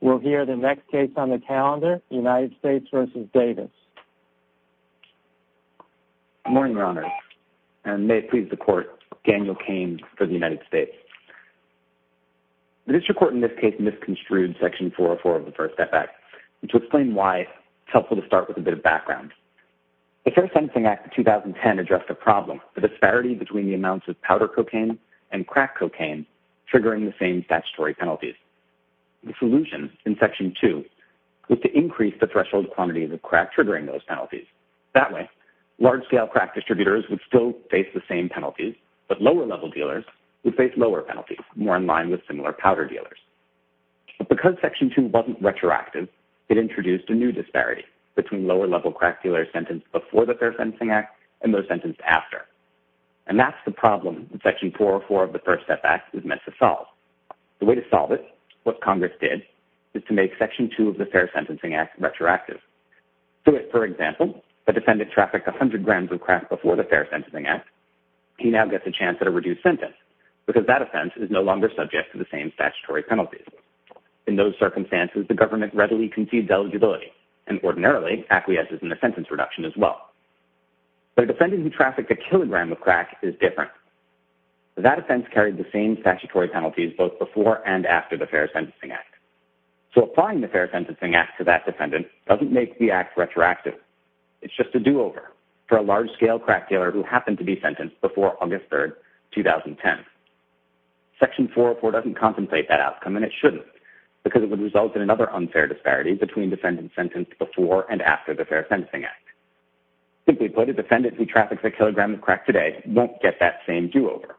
We'll hear the next case on the calendar, United States v. Davis. Good morning, Your Honor. And may it please the Court, Daniel Cain for the United States. The district court in this case misconstrued section 404 of the first F.A.C. To explain why, it's helpful to start with a bit of background. The Fair Sensing Act of 2010 addressed a problem, the disparity between the amounts of powder cocaine and crack cocaine triggering the same statutory penalties. The solution in section 2 was to increase the threshold quantity of the crack triggering those penalties. That way, large-scale crack distributors would still face the same penalties, but lower-level dealers would face lower penalties, more in line with similar powder dealers. But because section 2 wasn't retroactive, it introduced a new disparity between lower-level crack dealers sentenced before the Fair Sensing Act and those sentenced after. And that's the problem that section 404 of the first F.A.C. is meant to solve. The way to solve it, what Congress did, is to make section 2 of the Fair Sentencing Act retroactive. For example, if a defendant trafficked 100 grams of crack before the Fair Sensing Act, he now gets a chance at a reduced sentence, because that offense is no longer subject to the same statutory penalties. In those circumstances, the government readily concedes eligibility and ordinarily acquiesces in the sentence reduction as well. But a defendant who trafficked a kilogram of crack is different. That offense carried the same statutory penalties both before and after the Fair Sentencing Act. So applying the Fair Sentencing Act to that defendant doesn't make the act retroactive. It's just a do-over for a large-scale crack dealer who happened to be sentenced before August 3, 2010. Section 404 doesn't compensate that outcome, and it shouldn't, because it would result in another unfair disparity between defendants sentenced before and after the Fair Sentencing Act. Simply put, a defendant who traffics a kilogram of crack today won't get that same do-over.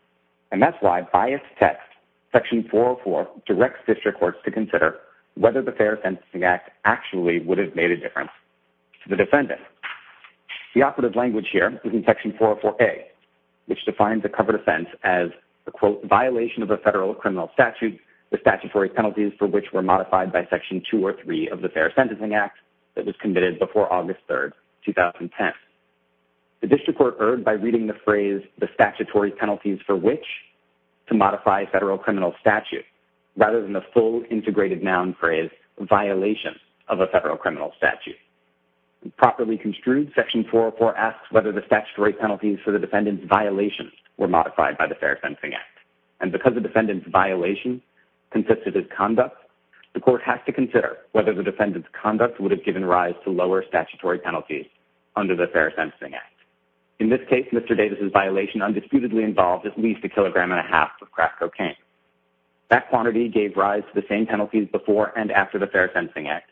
And that's why, by its text, section 404 directs district courts to consider whether the Fair Sentencing Act actually would have made a difference to the defendant. The operative language here is in section 404A, which defines a covered offense as a, quote, violation of a federal criminal statute, the statutory penalties for which were modified by section 2 or 3 of the Fair Sentencing Act that was committed before August 3, 2010. The district court erred by reading the phrase the statutory penalties for which to modify a federal criminal statute rather than the full integrated noun phrase violation of a federal criminal statute. Properly construed, section 404 asks whether the statutory penalties for the defendant's violation were modified by the Fair Sentencing Act. And because the defendant's violation consisted of conduct, the court has to consider whether the defendant's conduct would have given rise to lower statutory penalties under the Fair Sentencing Act. In this case, Mr. Davis' violation undisputedly involved at least a kilogram and a half of crack cocaine. That quantity gave rise to the same penalties before and after the Fair Sentencing Act,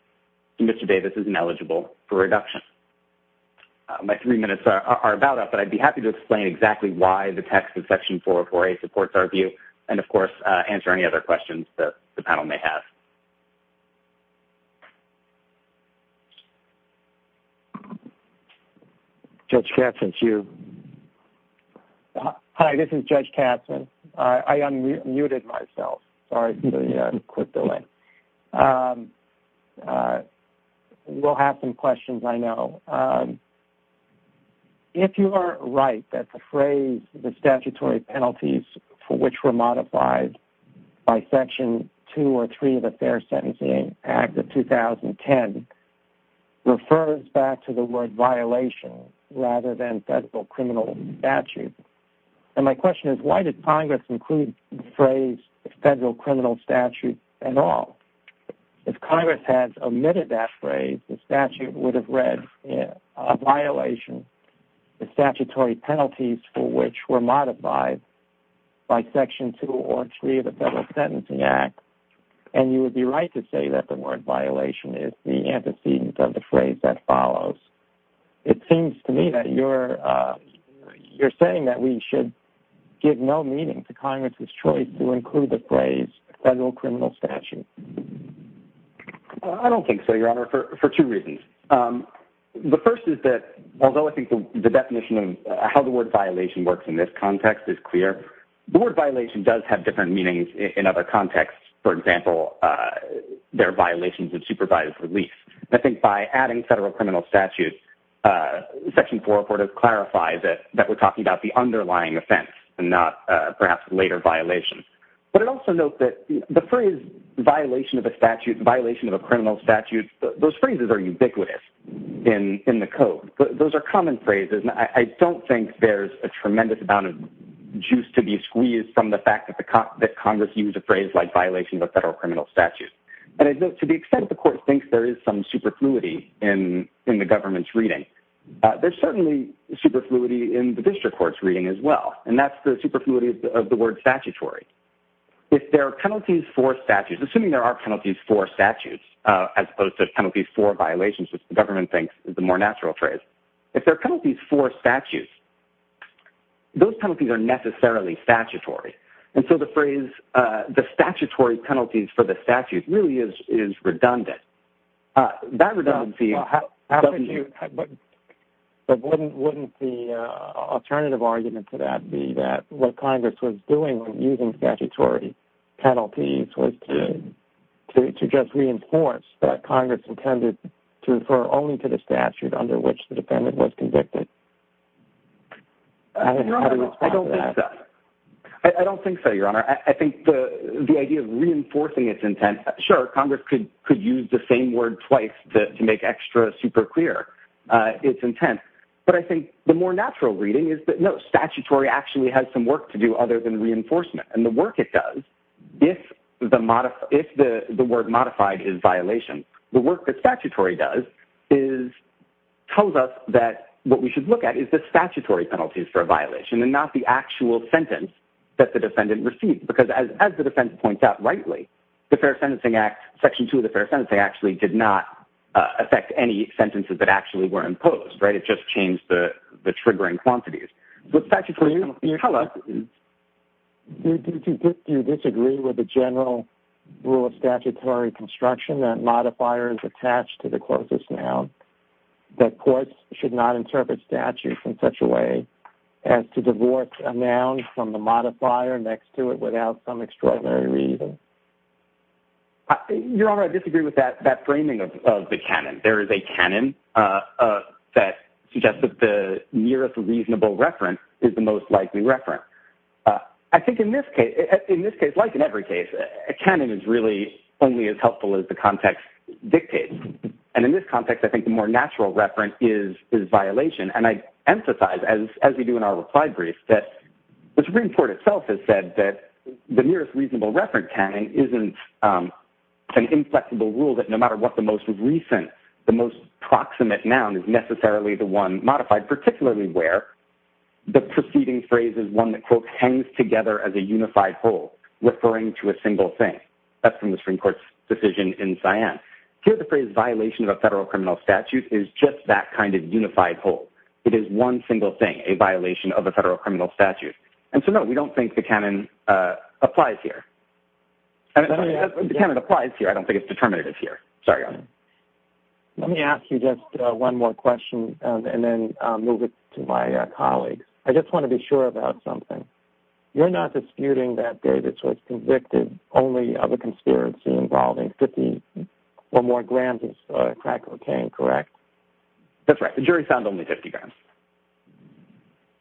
so Mr. Davis isn't eligible for reduction. My three minutes are about up, but I'd be happy to explain exactly why the text of section 404A supports our view and, of course, answer any other questions that the panel may have. Judge Katzen, it's you. Hi, this is Judge Katzen. I unmuted myself. Sorry for the quick delay. We'll have some questions, I know. If you are right that the phrase, the statutory penalties for which were modified by Section 2 or 3 of the Fair Sentencing Act of 2010, refers back to the word violation rather than federal criminal statute, then my question is why did Congress include the phrase federal criminal statute at all? If Congress had omitted that phrase, the statute would have read a violation, the statutory penalties for which were modified by Section 2 or 3 of the Federal Sentencing Act, and you would be right to say that the word violation is the antecedent of the phrase that follows. It seems to me that you're saying that we should give no meaning to Congress's choice to include the phrase federal criminal statute. I don't think so, Your Honor, for two reasons. The first is that although I think the definition of how the word violation works in this context is clear, the word violation does have different meanings in other contexts. For example, there are violations of supervised release. I think by adding federal criminal statute, Section 404 clarifies that we're talking about the underlying offense and not perhaps later violations. But I'd also note that the phrase violation of a statute, violation of a criminal statute, those phrases are ubiquitous in the Code. Those are common phrases, and I don't think there's a tremendous amount of juice to be squeezed from the fact that Congress used a phrase like violation of a federal criminal statute. And to the extent the Court thinks there is some superfluity in the government's reading, there's certainly superfluity in the district court's reading as well, and that's the superfluity of the word statutory. If there are penalties for statutes, assuming there are penalties for statutes, as opposed to penalties for violations, which the government thinks is the more natural phrase, if there are penalties for statutes, those penalties are necessarily statutory. And so the phrase the statutory penalties for the statutes really is redundant. That redundancy... But wouldn't the alternative argument to that be that what Congress was doing when using statutory penalties was to just reinforce that Congress intended to refer only to the statute under which the defendant was convicted? Your Honor, I don't think so. I don't think so, Your Honor. I think the idea of reinforcing its intent, sure, Congress could use the same word twice to make extra super clear its intent. But I think the more natural reading is that, no, statutory actually has some work to do other than reinforcement. And the work it does, if the word modified is violation, the work that statutory does tells us that what we should look at is the statutory penalties for a violation and not the actual sentence that the defendant received. Because as the defense points out rightly, the Fair Sentencing Act, Section 2 of the Fair Sentencing Act, actually did not affect any sentences that actually were imposed, right? It just changed the triggering quantities. The statutory penalties... Your Honor, do you disagree with the general rule of statutory construction that modifier is attached to the closest noun, that courts should not interpret statute in such a way as to divorce a noun from the modifier next to it without some extraordinary reason? Your Honor, I disagree with that framing of the canon. There is a canon that suggests that the nearest reasonable reference is the most likely reference. I think in this case, like in every case, a canon is really only as helpful as the context dictates. And in this context, I think the more natural reference is violation. And I emphasize, as we do in our reply brief, that the Supreme Court itself has said that the nearest reasonable reference canon isn't an inflexible rule that no matter what the most recent, the most proximate noun is necessarily the one modified, particularly where the preceding phrase is one that, quote, hangs together as a unified whole, referring to a single thing. That's from the Supreme Court's decision in Cyan. Here the phrase violation of a federal criminal statute is just that kind of unified whole. It is one single thing, a violation of a federal criminal statute. And so, no, we don't think the canon applies here. The canon applies here. I don't think it's determinative here. Sorry, Your Honor. Let me ask you just one more question and then move it to my colleagues. I just want to be sure about something. You're not disputing that, David, only of a conspiracy involving 50 or more grams of crack cocaine, correct? That's right. The jury found only 50 grams.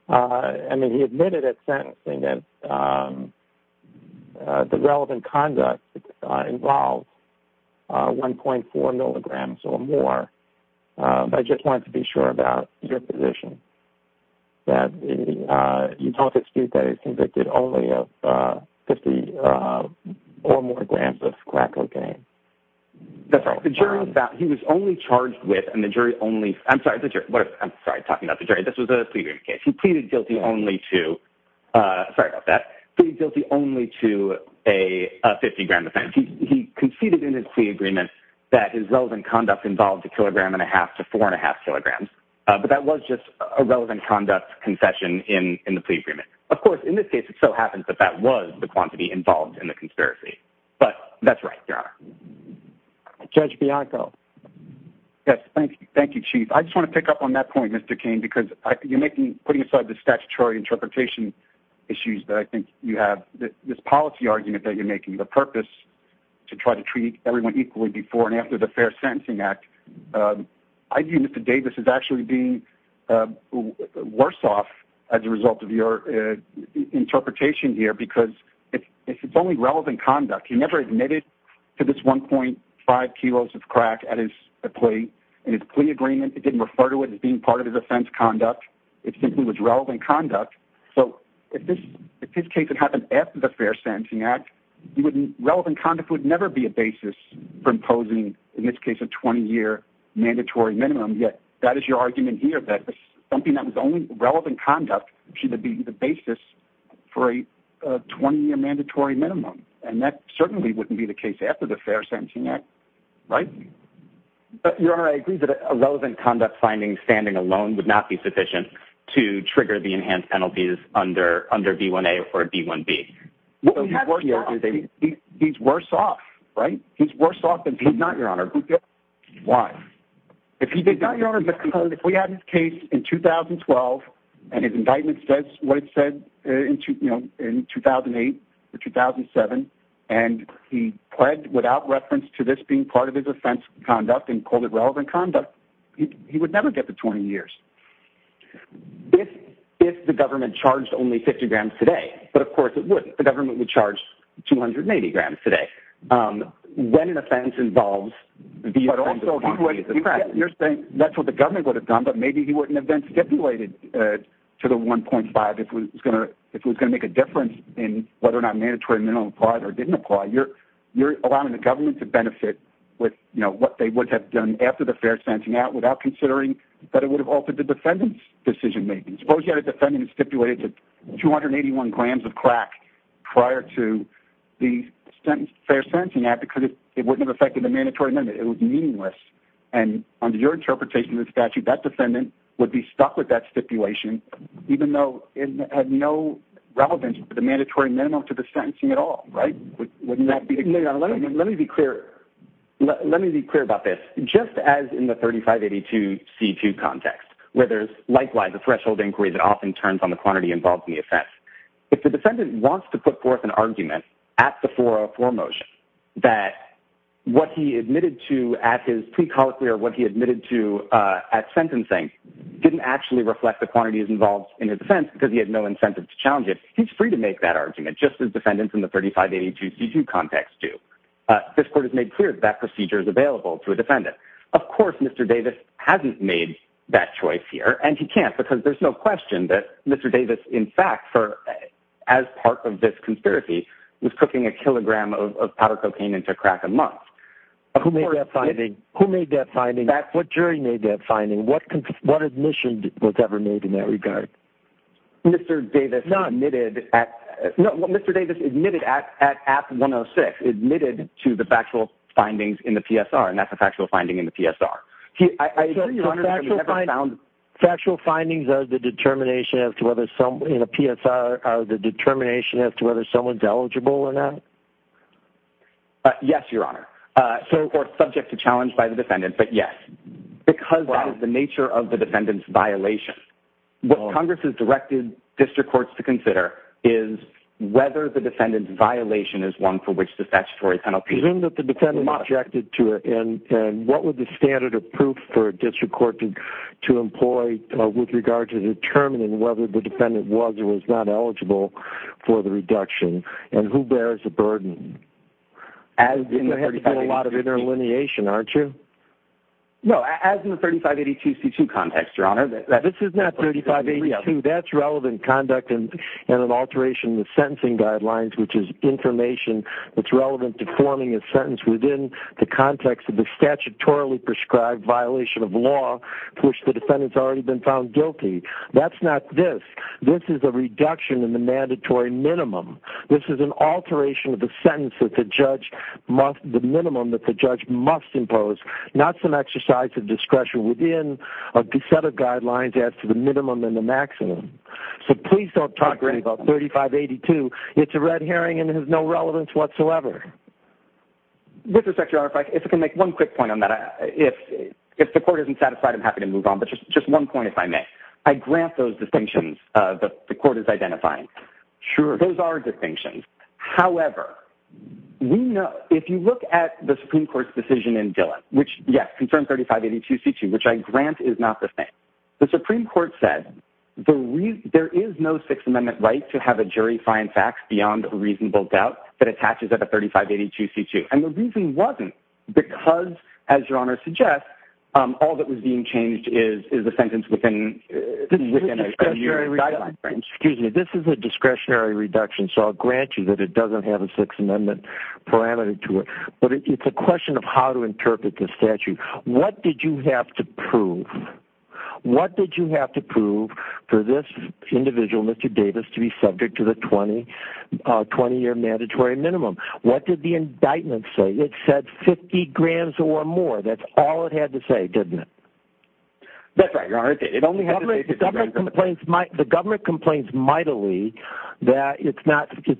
I mean, he admitted at sentencing that the relevant conduct involved 1.4 milligrams or more. I just wanted to be sure about your position, that you don't dispute that he's convicted only of 50 or more grams of crack cocaine. The jury found he was only charged with, and the jury only, I'm sorry, I'm sorry, talking about the jury, this was a pleading case. He pleaded guilty only to, sorry about that, pleaded guilty only to a 50-gram offense. He conceded in his plea agreement that his relevant conduct involved a kilogram and a half to four and a half kilograms. But that was just a relevant conduct concession in the plea agreement. Of course, in this case, it so happens that that was the quantity involved in the conspiracy. But that's right, Your Honor. Judge Bianco. Yes, thank you, Chief. I just want to pick up on that point, Mr. Cain, because you're putting aside the statutory interpretation issues that I think you have, this policy argument that you're making the purpose to try to treat everyone equally before and after the Fair Sentencing Act. I view Mr. Davis as actually being worse off as a result of your interpretation here, because it's only relevant conduct. He never admitted to this 1.5 kilos of crack at his plea. In his plea agreement, he didn't refer to it as being part of his offense conduct. It simply was relevant conduct. So if this case had happened after the Fair Sentencing Act, relevant conduct would never be a basis for imposing, in this case, a 20-year mandatory minimum. Yet that is your argument here, that something that was only relevant conduct should be the basis for a 20-year mandatory minimum. And that certainly wouldn't be the case after the Fair Sentencing Act, right? But, Your Honor, I agree that a relevant conduct finding standing alone would not be sufficient to trigger the enhanced penalties under B1A or B1B. He's worse off, right? He's worse off than he's not, Your Honor. Why? If he did not, Your Honor, because if we had his case in 2012, and his indictment says what it said in 2008 or 2007, and he pled without reference to this being part of his offense conduct and called it relevant conduct, he would never get the 20 years. If the government charged only 50 grams today, but of course it wouldn't. The government would charge 280 grams today. When an offense involves the offense of quantity of the crime. You're saying that's what the government would have done, but maybe he wouldn't have been stipulated to the 1.5 if it was going to make a difference in whether or not mandatory minimum applied or didn't apply. You're allowing the government to benefit with, you know, what they would have done after the Fair Sentencing Act without considering that it would have altered the defendant's decision-making. Suppose you had a defendant stipulated to 281 grams of crack prior to the Fair Sentencing Act because it wouldn't have affected the mandatory minimum. It would be meaningless. And under your interpretation of the statute, that defendant would be stuck with that stipulation even though it had no relevance for the mandatory minimum to the sentencing at all, right? Wouldn't that be the case? Let me be clear. Let me be clear about this. Just as in the 3582C2 context where there's, likewise, a threshold inquiry that often turns on the quantity involved in the offense, if the defendant wants to put forth an argument at the 404 motion that what he admitted to at his pre-colloquy or what he admitted to at sentencing didn't actually reflect the quantities involved in his offense because he had no incentive to challenge it, he's free to make that argument just as defendants in the 3582C2 context do. This court has made clear that that procedure is available to a defendant. Of course, Mr. Davis hasn't made that choice here, and he can't, because there's no question that Mr. Davis, in fact, as part of this conspiracy, was cooking a kilogram of powder cocaine into crack a month. Who made that finding? What jury made that finding? What admission was ever made in that regard? Mr. Davis admitted at 106, admitted to the factual findings in the PSR, and that's a factual finding in the PSR. Factual findings are the determination as to whether someone's eligible or not? Yes, Your Honor, or subject to challenge by the defendant, but yes, because that is the nature of the defendant's violation. What Congress has directed district courts to consider is whether the defendant's violation is one for which the statutory penalty is not applied. Assume that the defendant objected to it, and what would the standard of proof for a district court to employ with regard to determining whether the defendant was or was not eligible for the reduction, and who bears the burden? You're going to have to do a lot of interlineation, aren't you? No, as in the 3582C2 context, Your Honor. This is not 3582. That's relevant conduct in an alteration of the sentencing guidelines, which is information that's relevant to forming a sentence within the context of the statutorily prescribed violation of law to which the defendant's already been found guilty. That's not this. This is a reduction in the mandatory minimum. This is an alteration of the sentence that the judge must impose, not some exercise of discretion within a set of guidelines as to the minimum and the maximum. So please don't talk to me about 3582. It's a red herring, and it has no relevance whatsoever. With respect, Your Honor, if I can make one quick point on that. If the court isn't satisfied, I'm happy to move on, but just one point, if I may. I grant those distinctions that the court is identifying. Sure. Those are distinctions. However, if you look at the Supreme Court's decision in Dillon, which, yes, concerned 3582C2, which I grant is not the same, the Supreme Court said there is no Sixth Amendment right to have a jury find facts beyond a reasonable doubt that attaches at a 3582C2. And the reason wasn't because, as Your Honor suggests, all that was being changed is the sentence within a statutory guideline. Excuse me. This is a discretionary reduction, so I'll grant you that it doesn't have a Sixth Amendment parameter to it. But it's a question of how to interpret the statute. What did you have to prove? What did you have to prove for this individual, Mr. Davis, to be subject to the 20-year mandatory minimum? What did the indictment say? It said 50 grams or more. That's all it had to say, didn't it? That's right, Your Honor. The government complains mightily that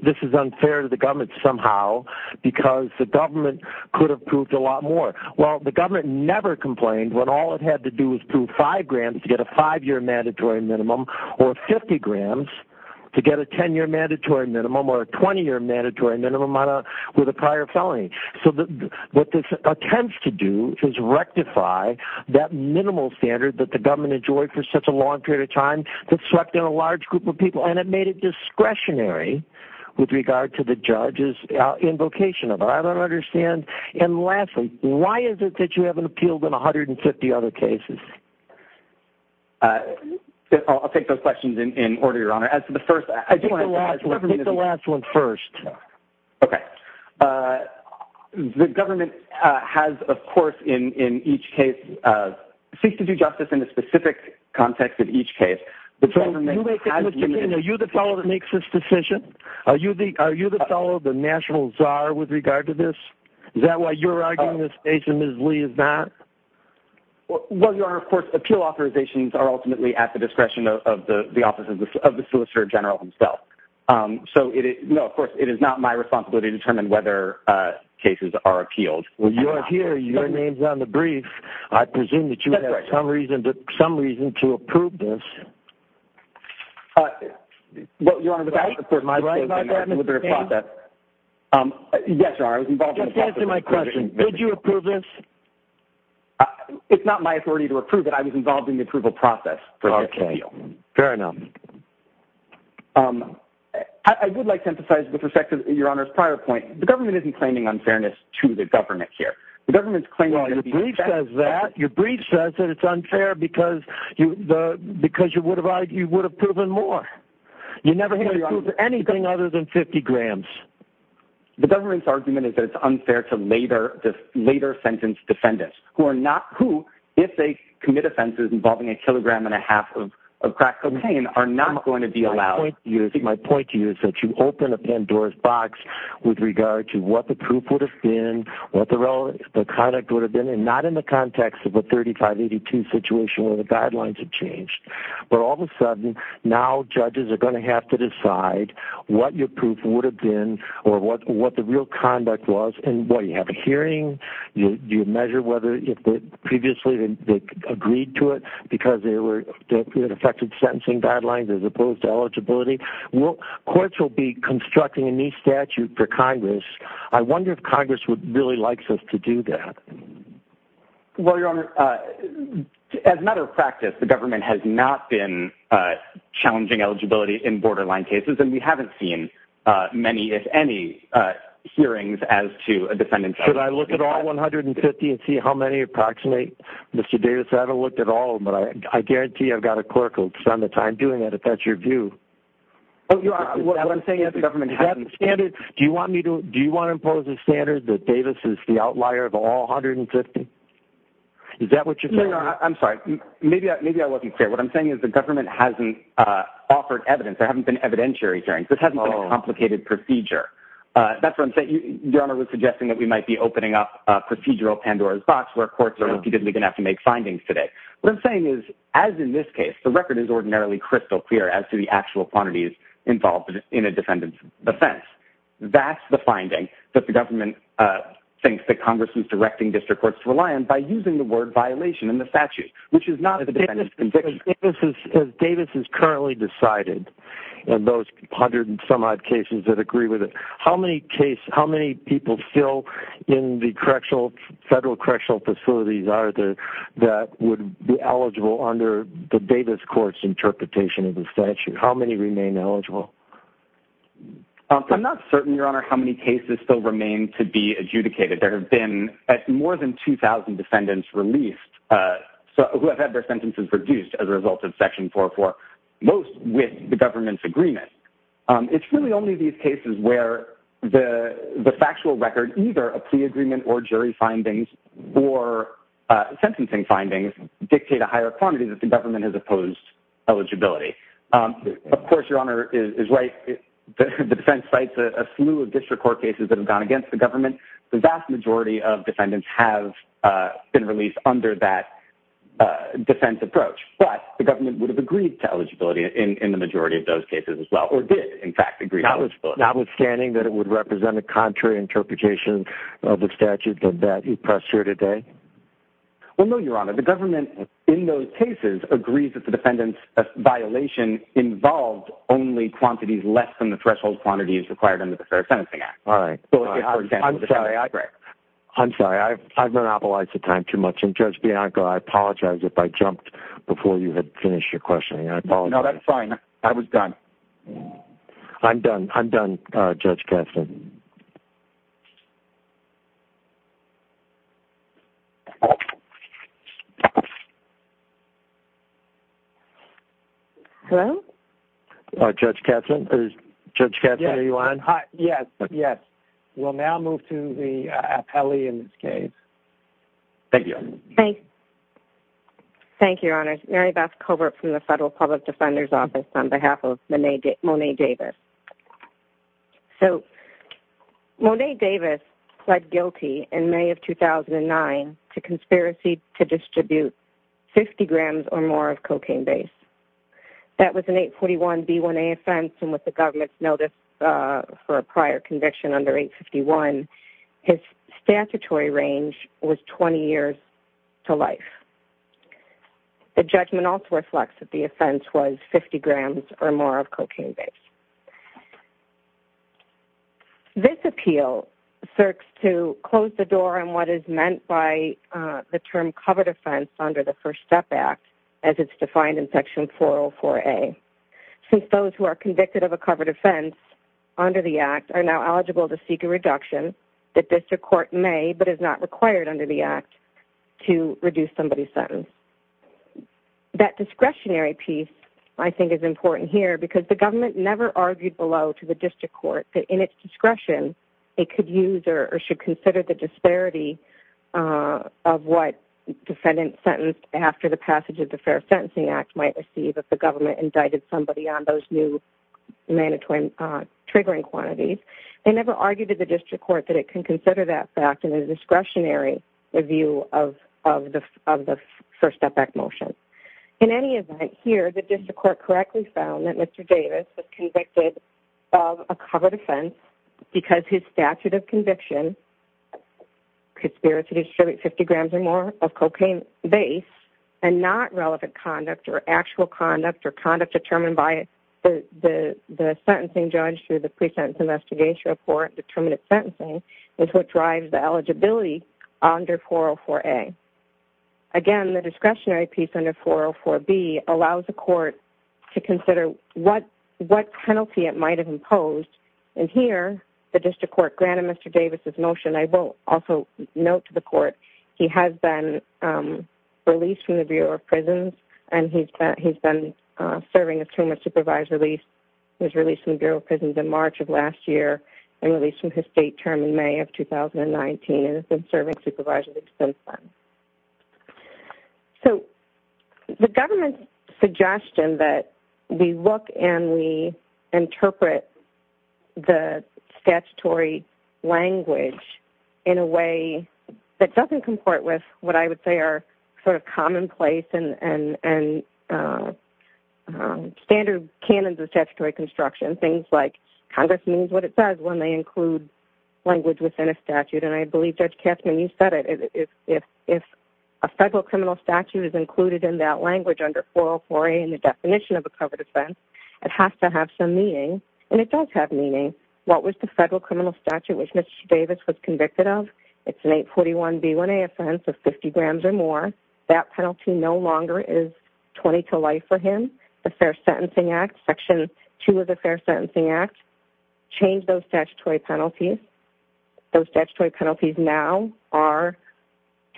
this is unfair to the government somehow because the government could have proved a lot more. Well, the government never complained when all it had to do was prove 5 grams to get a 5-year mandatory minimum or 50 grams to get a 10-year mandatory minimum or a 20-year mandatory minimum with a prior felony. So what this intends to do is rectify that minimal standard that the government enjoyed for such a long period of time that swept in a large group of people, and it made it discretionary with regard to the judge's invocation of it. I don't understand. And lastly, why is it that you haven't appealed in 150 other cases? I'll take those questions in order, Your Honor. I think the last one first. Okay. The government has, of course, in each case, seeks to do justice in a specific context in each case. Are you the fellow that makes this decision? Are you the fellow, the national czar, with regard to this? Is that why you're arguing this case so miserably, is that? Well, Your Honor, of course, appeal authorizations are ultimately at the discretion of the officer, of the Solicitor General himself. So, no, of course, it is not my responsibility to determine whether cases are appealed. Well, you're here. Your name's on the brief. I presume that you have some reason to approve this. Well, Your Honor, of course, my position is that I'm in the process. Just answer my question. Did you approve this? It's not my authority to approve it. I was involved in the approval process for this appeal. Okay. Fair enough. I would like to emphasize, with respect to Your Honor's prior point, the government isn't claiming unfairness to the government here. The government's claiming to be fair. Well, your brief says that. Your brief says that it's unfair because you would have proven more. You never have proven anything other than 50 grams. The government's argument is that it's unfair to later-sentenced defendants, who, if they commit offenses involving a kilogram and a half of crack cocaine, are not going to be allowed. My point to you is that you open a Pandora's box with regard to what the proof would have been, what the conduct would have been, and not in the context of a 3582 situation where the guidelines have changed. But all of a sudden, now judges are going to have to decide what your proof would have been or what the real conduct was. And, boy, you have a hearing. You measure whether previously they agreed to it because it affected sentencing guidelines as opposed to eligibility. Courts will be constructing a new statute for Congress. I wonder if Congress would really like us to do that. Well, Your Honor, as a matter of practice, the government has not been challenging eligibility in borderline cases, and we haven't seen many, if any, hearings as to a defendant's eligibility. Should I look at all 150 and see how many approximate, Mr. Davis? I haven't looked at all, but I guarantee I've got a clerk who will spend the time doing it if that's your view. What I'm saying is the government hasn't standard. Do you want to impose a standard that Davis is the outlier of all 150? Is that what you're saying? No, Your Honor, I'm sorry. Maybe I wasn't clear. What I'm saying is the government hasn't offered evidence. There haven't been evidentiary hearings. This hasn't been a complicated procedure. That's what I'm saying. Your Honor was suggesting that we might be opening up a procedural Pandora's box where courts are going to have to make findings today. What I'm saying is, as in this case, the record is ordinarily crystal clear as to the actual quantities involved in a defendant's defense. That's the finding that the government thinks that Congress is directing district courts to rely on by using the word violation in the statute, which is not the defendant's conviction. As Davis has currently decided, in those 100 and some odd cases that agree with it, how many people still in the federal correctional facilities are there that would be eligible under the Davis Court's interpretation of the statute? How many remain eligible? I'm not certain, Your Honor, how many cases still remain to be adjudicated. There have been more than 2,000 defendants released who have had their sentences reduced as a result of Section 404, most with the government's agreement. It's really only these cases where the factual record, either a plea agreement or jury findings or sentencing findings, dictate a higher quantity that the government has opposed eligibility. Of course, Your Honor is right. The defense cites a slew of district court cases that have gone against the government. The vast majority of defendants have been released under that defense approach. But the government would have agreed to eligibility in the majority of those cases as well, or did, in fact, agree to eligibility. Notwithstanding that it would represent a contrary interpretation of the statute that you pressed here today? Well, no, Your Honor. The government in those cases agrees that the defendant's violation involved only quantities less than the threshold quantities required under the Fair Sentencing Act. All right. I'm sorry. I've monopolized the time too much. And, Judge Bianco, I apologize if I jumped before you had finished your questioning. I apologize. No, that's fine. I was done. I'm done. I'm done, Judge Katzmann. Hello? Judge Katzmann? Judge Katzmann, are you on? Yes, yes. We'll now move to the appellee in this case. Thank you. Thanks. Thank you, Your Honor. Mary Beth Covert from the Federal Public Defender's Office on behalf of Monet Davis. So, Monet Davis pled guilty in May of 2009 to conspiracy to distribute 50 grams or more of cocaine base. That was an 841B1A offense, and with the government's notice for a prior conviction under 851, his statutory range was 20 years to life. The judgment also reflects that the offense was 50 grams or more of cocaine base. This appeal seeks to close the door on what is meant by the term covert offense under the First Step Act, as it's defined in Section 404A. Since those who are convicted of a covert offense under the Act are now eligible to seek a reduction, the district court may but is not required under the Act to reduce somebody's sentence. That discretionary piece, I think, is important here because the government never argued below to the district court that in its discretion it could use or should consider the disparity of what defendant sentenced after the passage of the Fair Sentencing Act which might receive if the government indicted somebody on those new mandatory triggering quantities. They never argued to the district court that it can consider that fact in a discretionary review of the First Step Act motion. In any event, here the district court correctly found that Mr. Davis was convicted of a covert offense because his statute of conviction, conspiracy to distribute 50 grams or more of cocaine base, and not relevant conduct or actual conduct or conduct determined by the sentencing judge through the Pre-Sentence Investigation Report, determinate sentencing, is what drives the eligibility under 404A. Again, the discretionary piece under 404B allows the court to consider what penalty it might have imposed, and here the district court granted Mr. Davis' motion. I will also note to the court he has been released from the Bureau of Prisons and he's been serving a term of supervised release. He was released from the Bureau of Prisons in March of last year and released from his state term in May of 2019 and has been serving supervisory since then. So the government's suggestion that we look and we interpret the statutory language in a way that doesn't comport with what I would say are sort of commonplace and standard canons of statutory construction, things like Congress means what it says when they include language within a statute, and I believe, Judge Katzmann, you said it. If a federal criminal statute is included in that language under 404A in the definition of a covered offense, it has to have some meaning, and it does have meaning. What was the federal criminal statute which Mr. Davis was convicted of? It's an 841B1A offense of 50 grams or more. That penalty no longer is 20 to life for him. The Fair Sentencing Act, Section 2 of the Fair Sentencing Act changed those statutory penalties. Those statutory penalties now are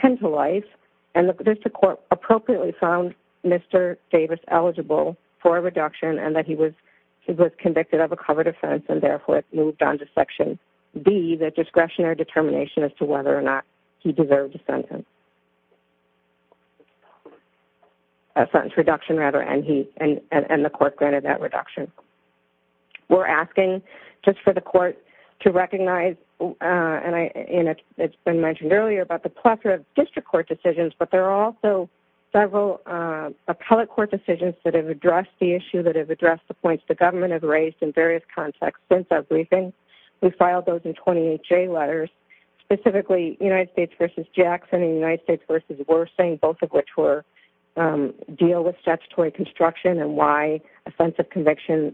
10 to life, and the district court appropriately found Mr. Davis eligible for a reduction and that he was convicted of a covered offense and therefore it moved on to Section B, the discretionary determination as to whether or not he deserved a sentence reduction, and the court granted that reduction. We're asking just for the court to recognize, and it's been mentioned earlier, about the plethora of district court decisions, but there are also several appellate court decisions that have addressed the issue, that have addressed the points the government has raised in various contexts since our briefing. We filed those in 28J letters, specifically United States v. Jackson and United States v. Wersing, both of which deal with statutory construction and why offensive conviction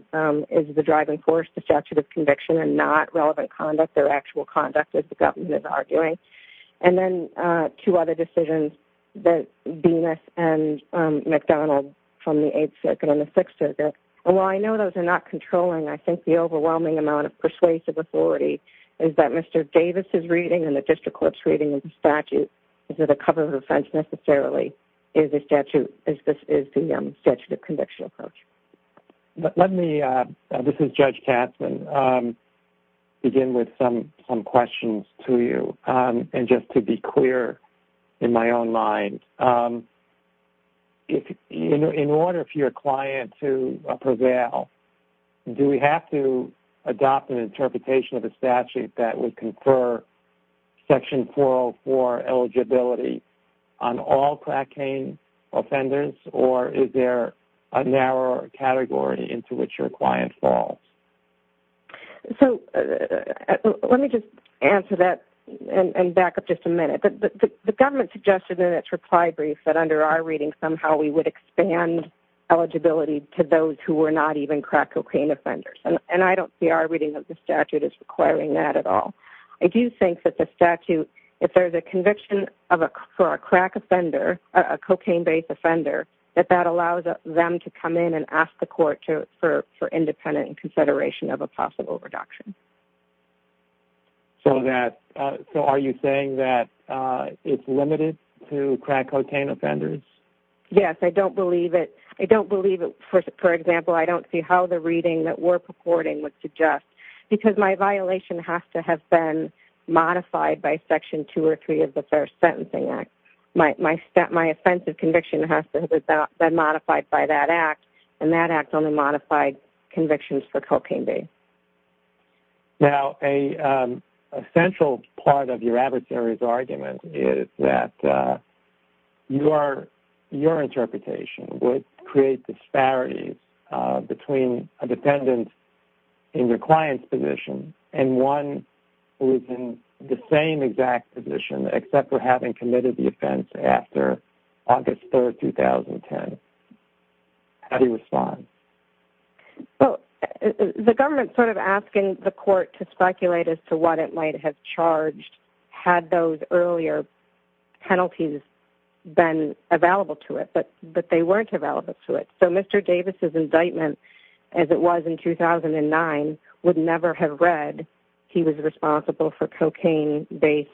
is the driving force to statute of conviction and not relevant conduct or actual conduct, as the government is arguing. And then two other decisions, Venus v. McDonald from the Eighth Circuit and the Sixth Circuit. While I know those are not controlling, I think the overwhelming amount of persuasive authority is that Mr. Davis' reading and the district court's reading of the statute is that a cover of offense necessarily is the statute of conviction approach. Let me, this is Judge Katzmann, begin with some questions to you. And just to be clear in my own mind, in order for your client to prevail, do we have to adopt an interpretation of a statute that would confer Section 404 eligibility on all crack cane offenders, or is there a narrower category into which your client falls? So let me just answer that and back up just a minute. The government suggested in its reply brief that under our reading somehow we would expand eligibility to those who were not even crack cocaine offenders, and I don't see our reading of the statute as requiring that at all. I do think that the statute, if there's a conviction for a crack offender, a cocaine-based offender, that that allows them to come in and ask the court for independent consideration of a possible reduction. So are you saying that it's limited to crack cocaine offenders? Yes, I don't believe it. I don't believe it, for example, I don't see how the reading that we're purporting would suggest, because my violation has to have been modified by Section 2 or 3 of the First Sentencing Act. My offensive conviction has to have been modified by that act, and that act only modified convictions for cocaine-based. Now, a central part of your adversary's argument is that your interpretation would create disparities between a defendant in your client's position and one who is in the same exact position, except for having committed the offense after August 3, 2010. How do you respond? Well, the government's sort of asking the court to speculate as to what it might have charged had those earlier penalties been available to it, but they weren't available to it. So Mr. Davis' indictment, as it was in 2009, would never have read he was responsible for cocaine-based,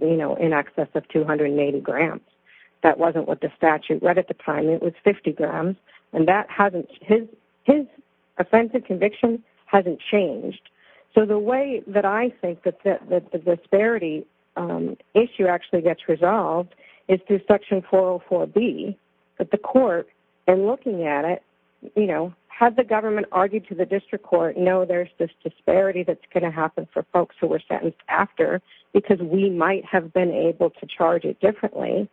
you know, in excess of 280 grams. That wasn't what the statute read at the time. It was 50 grams, and his offensive conviction hasn't changed. So the way that I think that the disparity issue actually gets resolved is through Section 404B. But the court, in looking at it, you know, had the government argued to the district court, no, there's this disparity that's going to happen for folks who were sentenced after because we might have been able to charge it differently.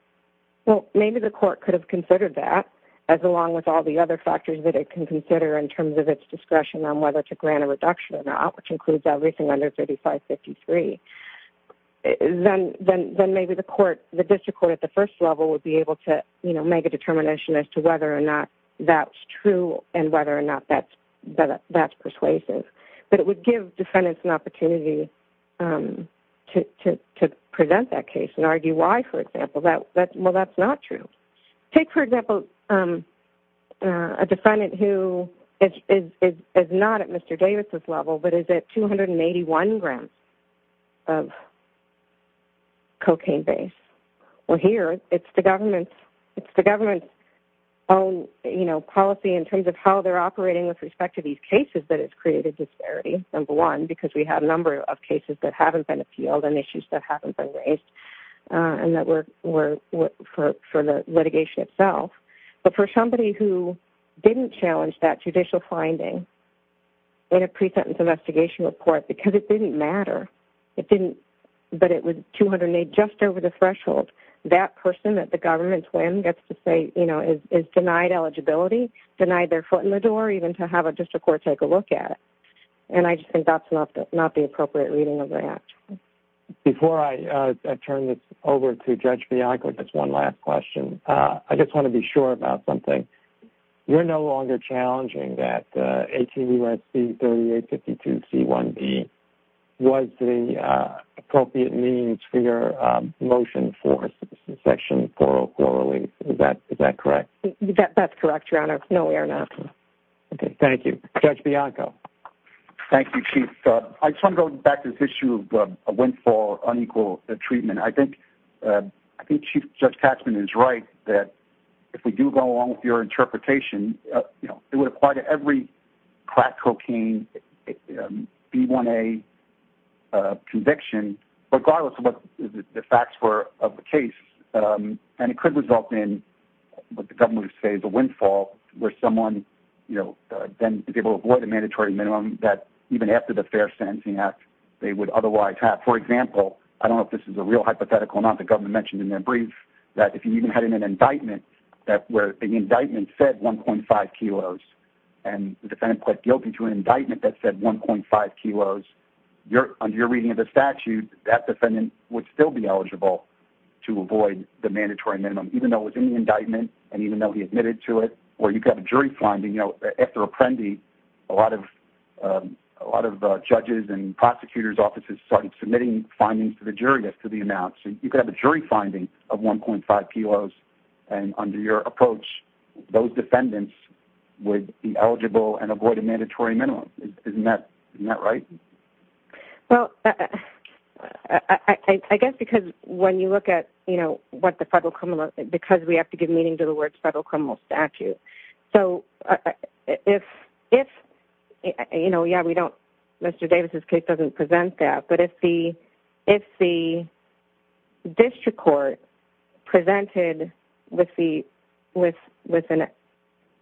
Well, maybe the court could have considered that, as along with all the other factors that it can consider in terms of its discretion on whether to grant a reduction or not, which includes everything under 3553. Then maybe the court, the district court at the first level, would be able to, you know, make a determination as to whether or not that's true and whether or not that's persuasive. But it would give defendants an opportunity to present that case and argue why, for example, well, that's not true. Take, for example, a defendant who is not at Mr. Davis' level but is at 281 grams of cocaine base. Well, here it's the government's own, you know, policy in terms of how they're operating with respect to these cases that has created disparity, number one, because we have a number of cases that haven't been appealed and issues that haven't been raised and that were for the litigation itself. But for somebody who didn't challenge that judicial finding in a pre-sentence investigation report because it didn't matter, but it was 208, just over the threshold, that person at the government's whim gets to say, you know, is denied eligibility, denied their foot in the door, even to have a district court take a look at it. And I just think that's not the appropriate reading of the Act. Before I turn this over to Judge Bianco, just one last question, I just want to be sure about something. You're no longer challenging that 18 U.S.C. 3852C1B was the appropriate means for your motion for Section 404 release. Is that correct? That's correct, Your Honor. No, we are not. Okay, thank you. Judge Bianco. Thank you, Chief. I just want to go back to this issue of a windfall, unequal treatment. I think Chief Judge Taxman is right that if we do go along with your interpretation, you know, it would apply to every crack cocaine, B1A conviction, regardless of what the facts were of the case. And it could result in what the government would say is a windfall where someone, you know, then is able to avoid a mandatory minimum that even after the Fair Sentencing Act they would otherwise have. For example, I don't know if this is a real hypothetical or not, the government mentioned in their brief that if you even had an indictment where the indictment said 1.5 kilos and the defendant pled guilty to an indictment that said 1.5 kilos, under your reading of the statute, that defendant would still be eligible to avoid the mandatory minimum, even though it was in the indictment and even though he admitted to it. Or you could have a jury finding, you know, after Apprendi, a lot of judges and prosecutor's offices started submitting findings to the jury after the announcement. You could have a jury finding of 1.5 kilos, and under your approach, those defendants would be eligible and avoid a mandatory minimum. Isn't that right? Well, I guess because when you look at, you know, what the federal criminal, because we have to give meaning to the words federal criminal statute. So if, you know, yeah, Mr. Davis' case doesn't present that, but if the district court presented with an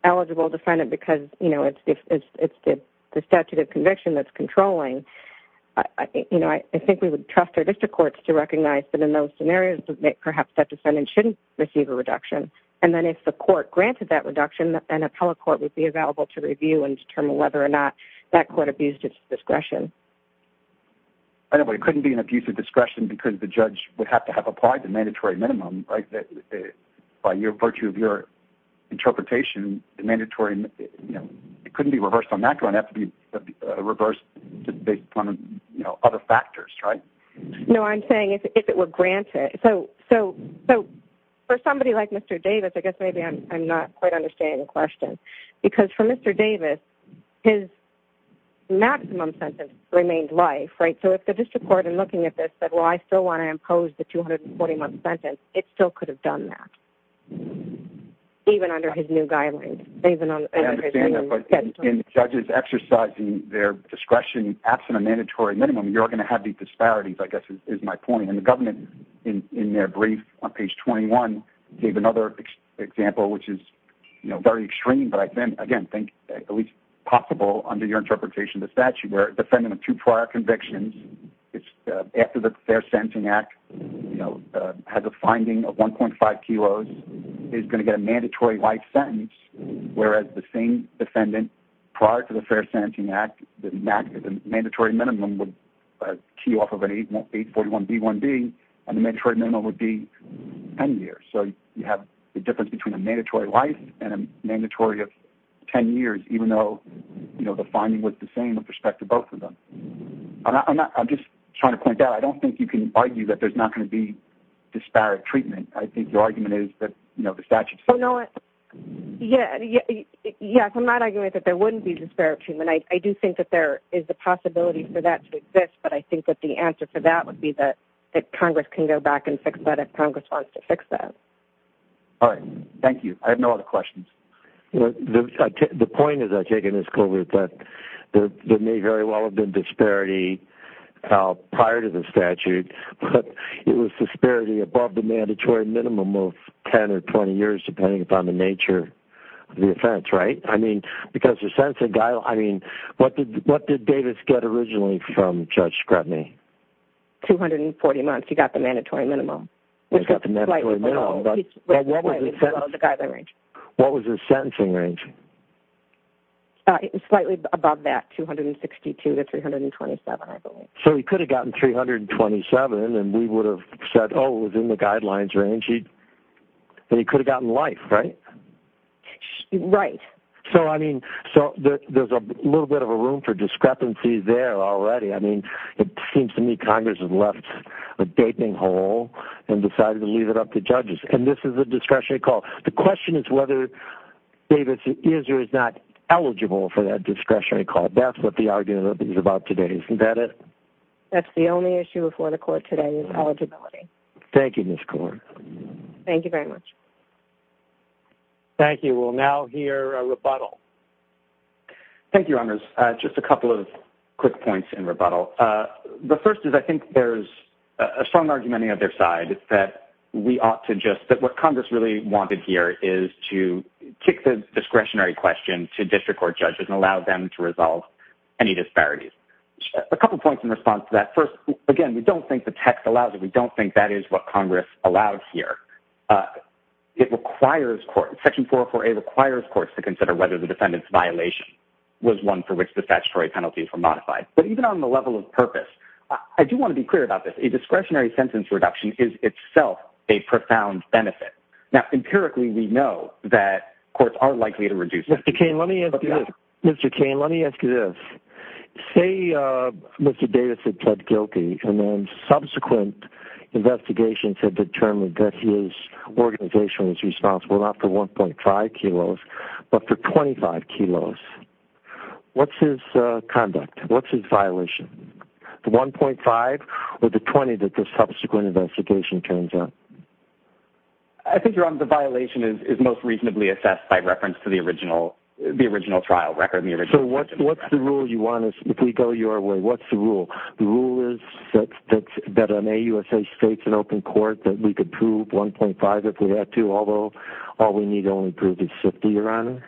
eligible defendant because, you know, it's the statute of conviction that's controlling, you know, I think we would trust our district courts to recognize that in those scenarios, perhaps that defendant shouldn't receive a reduction. And then if the court granted that reduction, an appellate court would be available to review and determine whether or not that court abused its discretion. I know, but it couldn't be an abuse of discretion because the judge would have to have applied the mandatory minimum, right? By virtue of your interpretation, the mandatory, you know, it couldn't be reversed on that ground. It would have to be reversed based upon, you know, other factors, right? No, I'm saying if it were granted. So for somebody like Mr. Davis, I guess maybe I'm not quite understanding the question because for Mr. Davis, his maximum sentence remained life, right? So if the district court in looking at this said, well, I still want to impose the 241 sentence, it still could have done that. Even under his new guidelines. I understand that, but in judges exercising their discretion absent a mandatory minimum, you're going to have these disparities, I guess, is my point. And the government, in their brief on page 21, gave another example which is, you know, very extreme, but I again think at least possible under your interpretation of the statute where a defendant of two prior convictions, after the Fair Sentencing Act, you know, has a finding of 1.5 kilos, is going to get a mandatory life sentence, whereas the same defendant prior to the Fair Sentencing Act, the mandatory minimum would key off of an 841B1B, and the mandatory minimum would be 10 years. So you have the difference between a mandatory life and a mandatory of 10 years, even though, you know, the finding was the same with respect to both of them. I'm just trying to point out, I don't think you can argue that there's not going to be disparate treatment. I think your argument is that, you know, the statute says. Yes, I'm not arguing that there wouldn't be disparate treatment. I do think that there is a possibility for that to exist, but I think that the answer for that would be that Congress can go back and fix that if Congress wants to fix that. All right. Thank you. I have no other questions. The point is, I take it as COVID, that there may very well have been disparity prior to the statute, but it was disparity above the mandatory minimum of 10 or 20 years, depending upon the nature of the offense, right? I mean, because your sentencing guideline, I mean, what did Davis get originally from Judge Scrutiny? 240 months. He got the mandatory minimum. He got the mandatory minimum. What was his sentencing range? Slightly above that, 262 to 327, I believe. So he could have gotten 327, and we would have said, oh, it was in the guidelines range, and he could have gotten life, right? Right. So, I mean, there's a little bit of a room for discrepancy there already. I mean, it seems to me Congress has left a gaping hole and decided to leave it up to judges, and this is a discretionary call. The question is whether Davis is or is not eligible for that discretionary call. That's what the argument is about today, isn't that it? That's the only issue before the court today is eligibility. Thank you, Ms. Korn. Thank you very much. Thank you. We'll now hear a rebuttal. Thank you, Honors. Just a couple of quick points in rebuttal. The first is I think there's a strong argument on the other side that we ought to just, that what Congress really wanted here is to kick the discretionary question to district court judges and allow them to resolve any disparities. A couple of points in response to that. First, again, we don't think the text allows it. We don't think that is what Congress allows here. It requires court, Section 404A requires courts to consider whether the defendant's violation was one for which the statutory penalties were modified. But even on the level of purpose, I do want to be clear about this. A discretionary sentence reduction is itself a profound benefit. Now, empirically we know that courts are likely to reduce it. Mr. Cain, let me ask you this. Say Mr. Davis had pled guilty and then subsequent investigations have determined that his organization was responsible not for 1.5 kilos but for 25 kilos. What's his conduct? What's his violation? The 1.5 or the 20 that the subsequent investigation turns out? I think, Your Honor, the violation is most reasonably assessed by reference to the original trial record. So what's the rule you want? If we go your way, what's the rule? The rule is that an AUSA state's an open court, that we could prove 1.5 if we had to, although all we need to only prove is 50, Your Honor?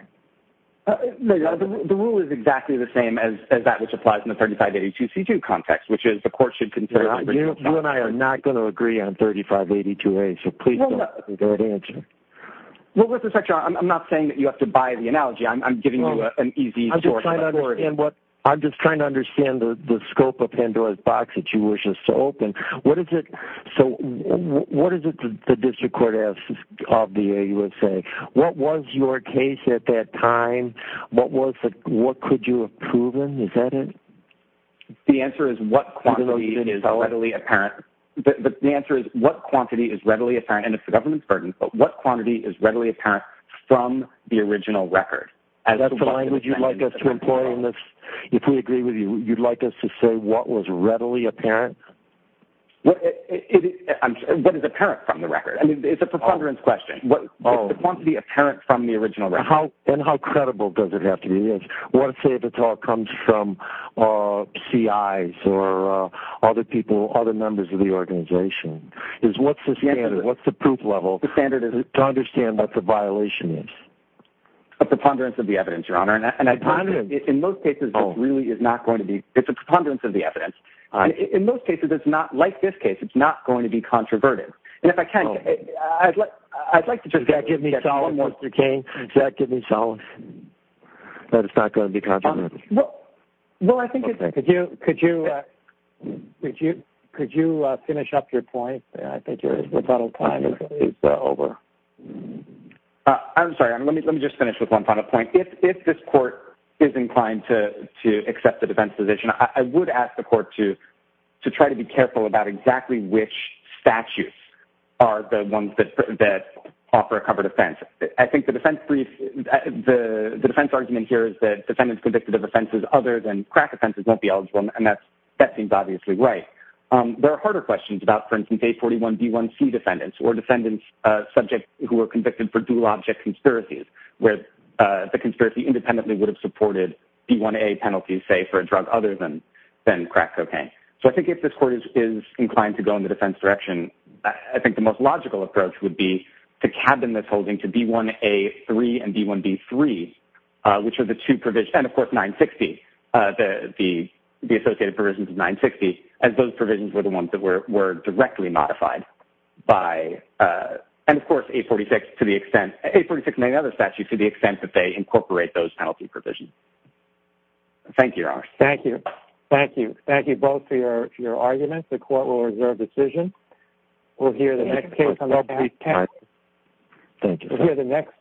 The rule is exactly the same as that which applies in the 3582C2 context, which is the court should consider it. You and I are not going to agree on 3582A, so please don't give me that answer. I'm not saying that you have to buy the analogy. I'm giving you an easy source. I'm just trying to understand the scope of Pandora's box that you wish us to open. So what is it the district court asks of the AUSA? What was your case at that time? What could you have proven? Is that it? The answer is what quantity is readily apparent. The answer is what quantity is readily apparent, and it's the government's burden, but what quantity is readily apparent from the original record? Is that the language you'd like us to employ in this? If we agree with you, you'd like us to say what was readily apparent? What is apparent from the record? It's a preponderance question. It's the quantity apparent from the original record. And how credible does it have to be? Let's say the talk comes from CIs or other people, other members of the organization. What's the standard? What's the proof level to understand what the violation is? A preponderance of the evidence, Your Honor. In most cases, it really is not going to be. It's a preponderance of the evidence. In most cases, it's not like this case. It's not going to be controversial. And if I can, I'd like to just say that. Give me solemn, Mr. King. Give me solemn. That it's not going to be controversial. Well, I think it's okay. Could you finish up your point? I think your final time is over. I'm sorry. Let me just finish with one final point. If this court is inclined to accept the defense position, I would ask the court to try to be careful about exactly which statutes are the ones that offer a covered offense. I think the defense argument here is that defendants convicted of offenses other than crack offenses won't be eligible, and that seems obviously right. There are harder questions about, for instance, A41B1C defendants or defendants, subjects who were convicted for dual object conspiracies, where the conspiracy independently would have supported B1A penalties, say, for a drug other than crack cocaine. So I think if this court is inclined to go in the defense direction, I think the most logical approach would be to cabin this holding to B1A3 and B1B3, which are the two provisions, and of course 960, the associated provisions of 960, as those provisions were the ones that were directly modified by, and of course 846 to the extent, 846 and many other statutes to the extent that they incorporate those penalty provisions. Thank you, Your Honor. Thank you. Thank you. Thank you both for your arguments. The court will reserve decision. We'll hear the next case on that. Thank you. We'll hear the next.